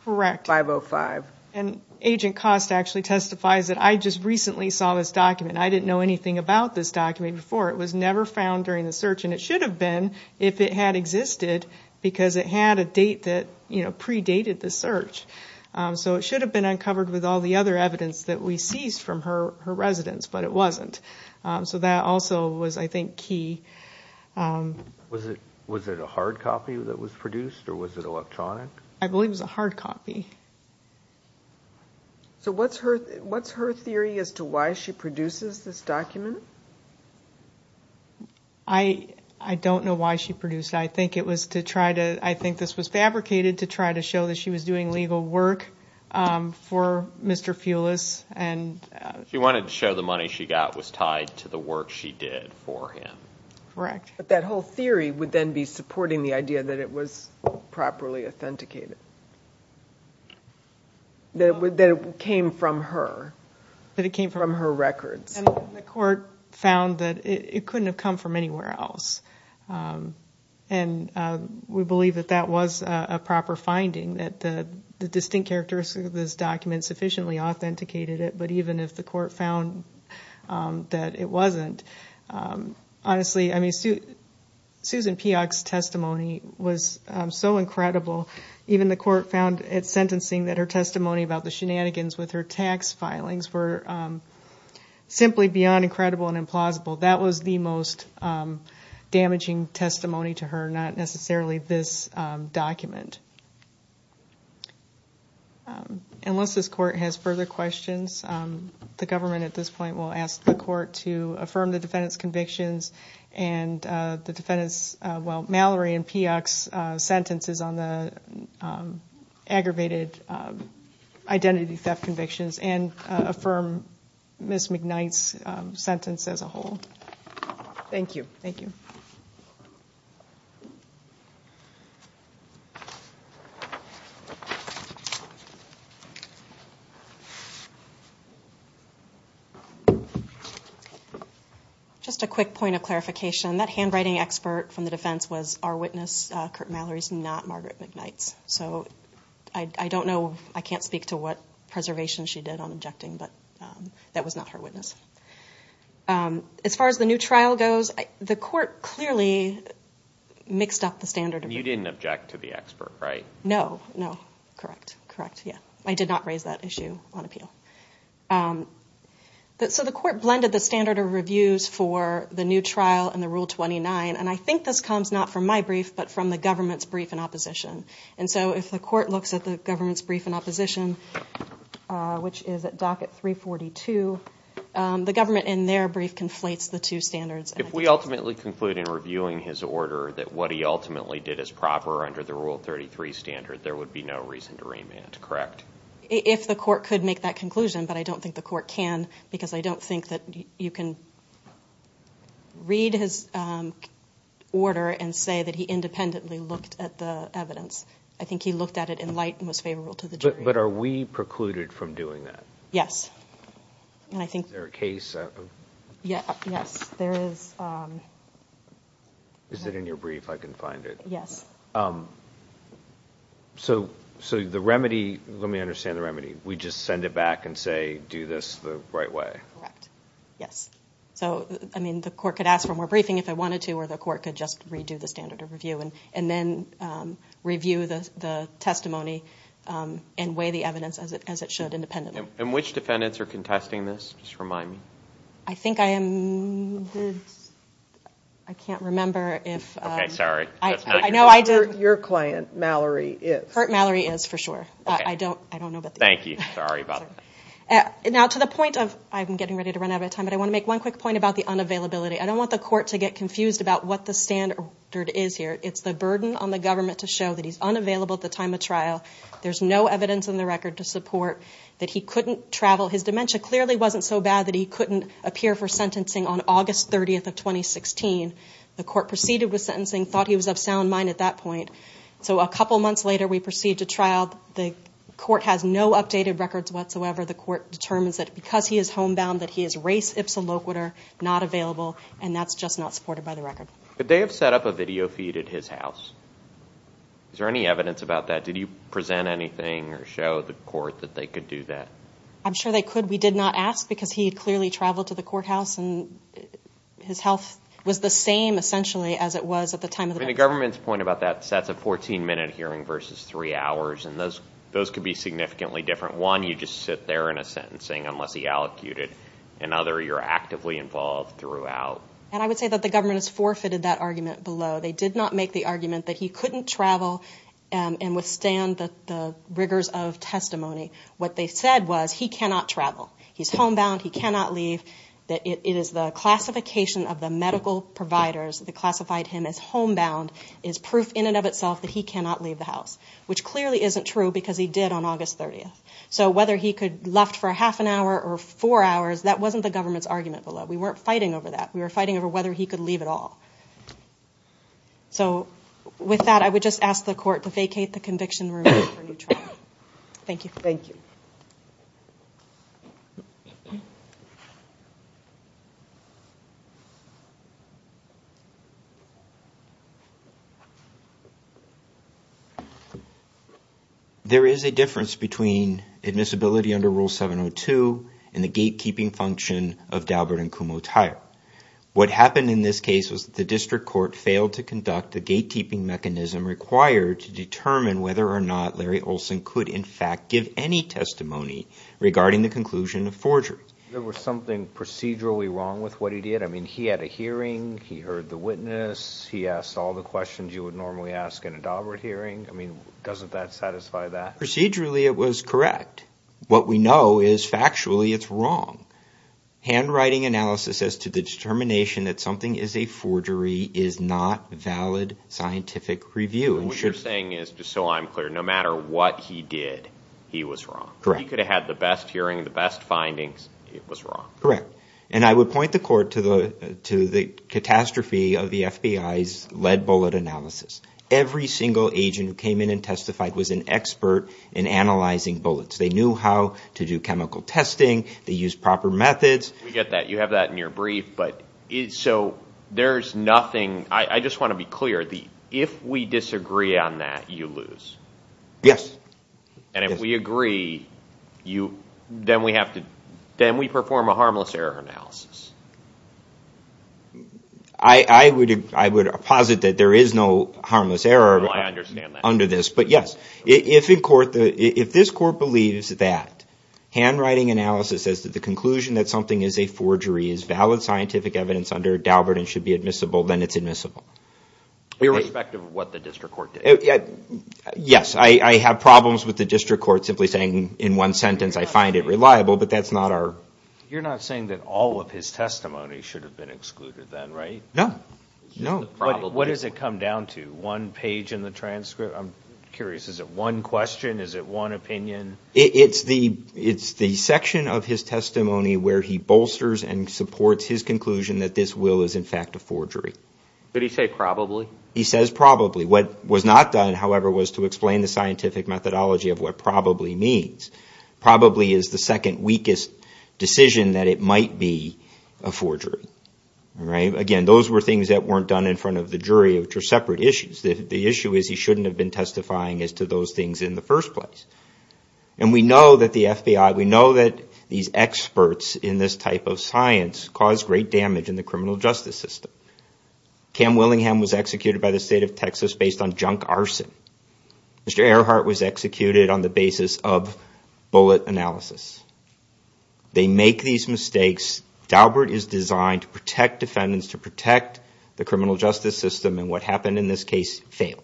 505. And Agent Cost actually testifies that I just recently saw this document. I didn't know anything about this document before. It was never found during the search, and it should have been if it had existed, because it had a date that predated the search. So it should have been uncovered with all the other evidence that we seized from her residence, but it wasn't. So that also was, I think, key. Was it a hard copy that was produced, or was it electronic? I believe it was a hard copy. So what's her theory as to why she produces this document? I don't know why she produced it. I think this was fabricated to try to show that she was doing legal work for Mr. Fulis. She wanted to show the money she got was tied to the work she did for him. But that whole theory would then be supporting the idea that it was properly authenticated. That it came from her, from her records. And the court found that it couldn't have come from anywhere else. And we believe that that was a proper finding, that the distinct characteristics of this document sufficiently authenticated it. But even if the court found that it wasn't, honestly, I mean, Susan Peock's testimony was so incredible. Even the court found, at sentencing, that her testimony about the shenanigans with her tax filings were similar to that. Simply beyond incredible and implausible. That was the most damaging testimony to her, not necessarily this document. Unless this court has further questions, the government at this point will ask the court to affirm the defendant's convictions and the defendant's, well, Mallory and Peock's sentences on the aggravated identity theft convictions and affirm Ms. McKnight's sentence as a whole. Thank you. Just a quick point of clarification. That handwriting expert from the defense was our witness, Kurt Mallory's, not Margaret McKnight's. She did on objecting, but that was not her witness. As far as the new trial goes, the court clearly mixed up the standard of review. You didn't object to the expert, right? No, no. Correct, correct, yeah. I did not raise that issue on appeal. So the court blended the standard of reviews for the new trial and the Rule 29, and I think this comes not from my brief, but from the government's brief in opposition. And so if the court looks at the government's brief in opposition, which is at docket 342, the government in their brief conflates the two standards. If we ultimately conclude in reviewing his order that what he ultimately did is proper under the Rule 33 standard, there would be no reason to remand, correct? If the court could make that conclusion, but I don't think the court can, because I don't think that you can read his order and say that he independently looked at the evidence. I think he looked at it in light and was favorable to the jury. But are we precluded from doing that? Yes. Is there a case? Is it in your brief? I can find it. So the remedy, let me understand the remedy. We just send it back and say, do this the right way. Correct. Yes. So, I mean, the court could ask for more briefing if they wanted to, or the court could just redo the standard of review and then review the testimony and weigh the evidence as it should independently. And which defendants are contesting this? Just remind me. I think I am good. I can't remember. I know I did. Your client, Mallory, is. I don't know. Thank you. Sorry about that. Now, to the point of I'm getting ready to run out of time, but I want to make one quick point about the unavailability. I don't want the court to get confused about what the standard is here. It's the burden on the government to show that he's unavailable at the time of trial. There's no evidence in the record to support that he couldn't travel. His dementia clearly wasn't so bad that he couldn't appear for sentencing on August 30th of 2016. The court proceeded with sentencing, thought he was of sound mind at that point. So a couple months later, we proceed to trial. The court has no updated records whatsoever. The court determines that because he is homebound, that he is res ipsa loquitur, not available. And that's just not supported by the record. Could they have set up a video feed at his house? Is there any evidence about that? Did you present anything or show the court that they could do that? I'm sure they could. We did not ask, because he had clearly traveled to the courthouse, and his health was the same, essentially, as it was at the time of the death. But the government's point about that is that's a 14-minute hearing versus three hours, and those could be significantly different. One, you just sit there in a sentencing unless he allocuted. Another, you're actively involved throughout. And I would say that the government has forfeited that argument below. They did not make the argument that he couldn't travel and withstand the rigors of testimony. What they said was he cannot travel, he's homebound, he cannot leave, that it is the classification of the medical providers that classified him as homebound is proof in and of itself that he cannot leave the house, which clearly isn't true, because he did on August 30th. So whether he could left for a half an hour or four hours, that wasn't the government's argument below. We weren't fighting over that. We were fighting over whether he could leave at all. So with that, I would just ask the court to vacate the conviction room. Thank you. Thank you. Thank you. There is a difference between admissibility under Rule 702 and the gatekeeping function of Dalbert and Kumho Tire. What happened in this case was that the district court failed to conduct the gatekeeping mechanism required to determine whether or not Larry Olson could in fact give any testimony regarding the conclusion of forgery. There was something procedurally wrong with what he did. I mean, he had a hearing, he heard the witness, he asked all the questions you would normally ask in a Dalbert hearing. I mean, doesn't that satisfy that? Procedurally, it was correct. What we know is factually it's wrong. Handwriting analysis as to the determination that something is a forgery is not valid scientific review. What you're saying is, just so I'm clear, no matter what he did, he was wrong. He could have had the best hearing, the best findings. It was wrong. Correct. And I would point the court to the catastrophe of the FBI's lead bullet analysis. Every single agent who came in and testified was an expert in analyzing bullets. They knew how to do chemical testing. They used proper methods. We get that. You have that in your brief. So there's nothing... I just want to be clear. If we disagree on that, you lose. And if we agree, then we perform a harmless error analysis. I would posit that there is no harmless error under this. But yes, if this court believes that handwriting analysis as to the conclusion that something is a forgery is valid scientific evidence under Dalbert and should be admissible, then it's admissible. Irrespective of what the district court did. Yes. I have problems with the district court simply saying in one sentence, I find it reliable, but that's not our... You're not saying that all of his testimony should have been excluded then, right? No. What does it come down to? One page in the transcript? I'm curious. Is it one question? Is it one opinion? It's the section of his testimony where he bolsters and supports his conclusion that this will is in fact a forgery. Did he say probably? He says probably. What was not done, however, was to explain the scientific methodology of what probably means. Probably is the second weakest decision that it might be a forgery. Again, those were things that weren't done in front of the jury, which are separate issues. The issue is he shouldn't have been testifying as to those things in the first place. And we know that the FBI, we know that these experts in this type of science cause great damage in the criminal justice system. Cam Willingham was executed by the state of Texas based on junk arson. Mr. Earhart was executed on the basis of bullet analysis. They make these mistakes. Daubert is designed to protect defendants, to protect the criminal justice system, and what happened in this case failed.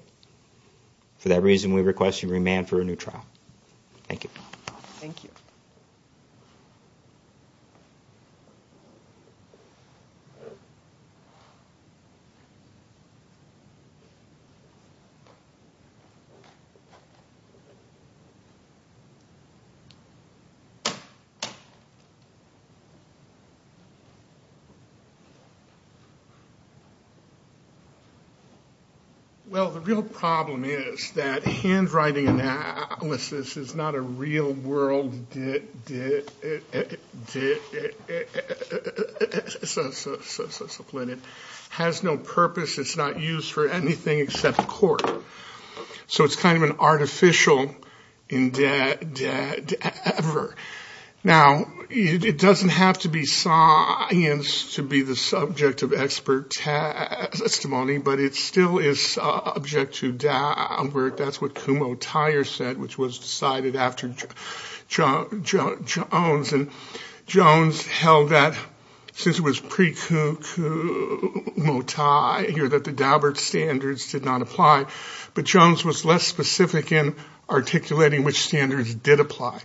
For that reason, we request you remand for a new trial. Thank you. Well, the real problem is that handwriting analysis is not a real world discipline. It has no purpose. It's not used for anything except court. So it's kind of an artificial endeavor. Now, it doesn't have to be science to be the subject of expert testimony, but it still is subject to Daubert. That's what Kumo Tire said, which was decided after Jones. And Jones held that since it was pre-Kumo Tire, that the Daubert standards did not apply. But Jones was less specific in articulating which standards did apply.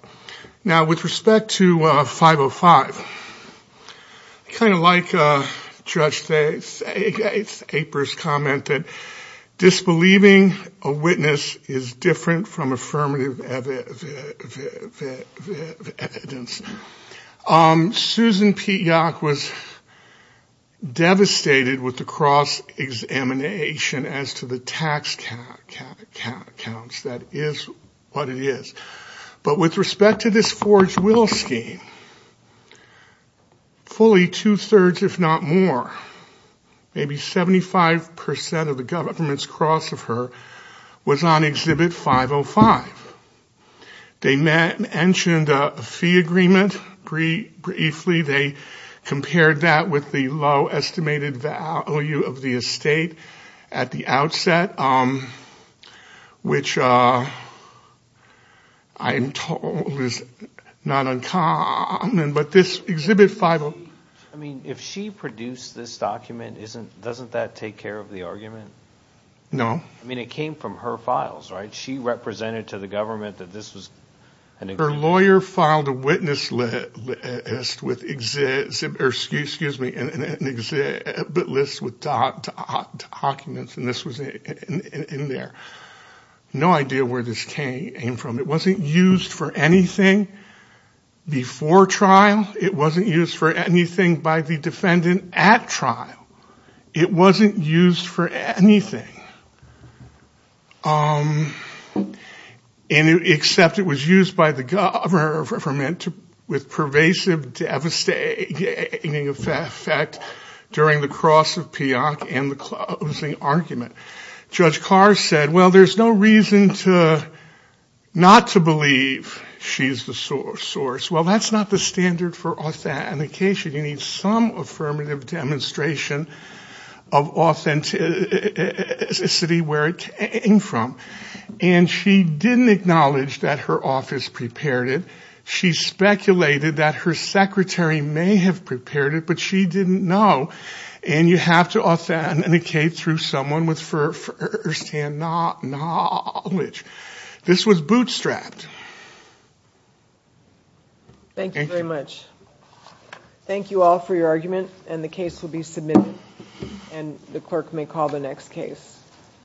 Now, with respect to 505, I kind of like Judge Aper's comment that disbelieving a witness is different from affirmative evidence. Susan P. Yock was devastated with the cross-examination as to the tax counts. That is what it is. But with respect to this forged will scheme, fully two-thirds, if not more, maybe 75% of the government's cross of her was on exhibit 505. They mentioned a fee agreement briefly. They compared that with the low estimated value of the estate at the outset, which I am told is not uncommon. But this exhibit 505... I mean, if she produced this document, doesn't that take care of the argument? Her lawyer filed a witness list with an exhibit list with documents, and this was in there. No idea where this came from. It wasn't used for anything before trial. It wasn't used for anything by the defendant at trial. It wasn't used for anything. Except it was used by the government with pervasive devastating effect during the cross of P. Yock and the closing argument. Judge Carr said, well, there's no reason not to believe she's the source. Well, that's not the standard for authentication. You need some affirmative demonstration of authenticity where it came from. And she didn't acknowledge that her office prepared it. She speculated that her secretary may have prepared it, but she didn't know. And you have to authenticate through someone with firsthand knowledge. This was bootstrapped. Thank you very much.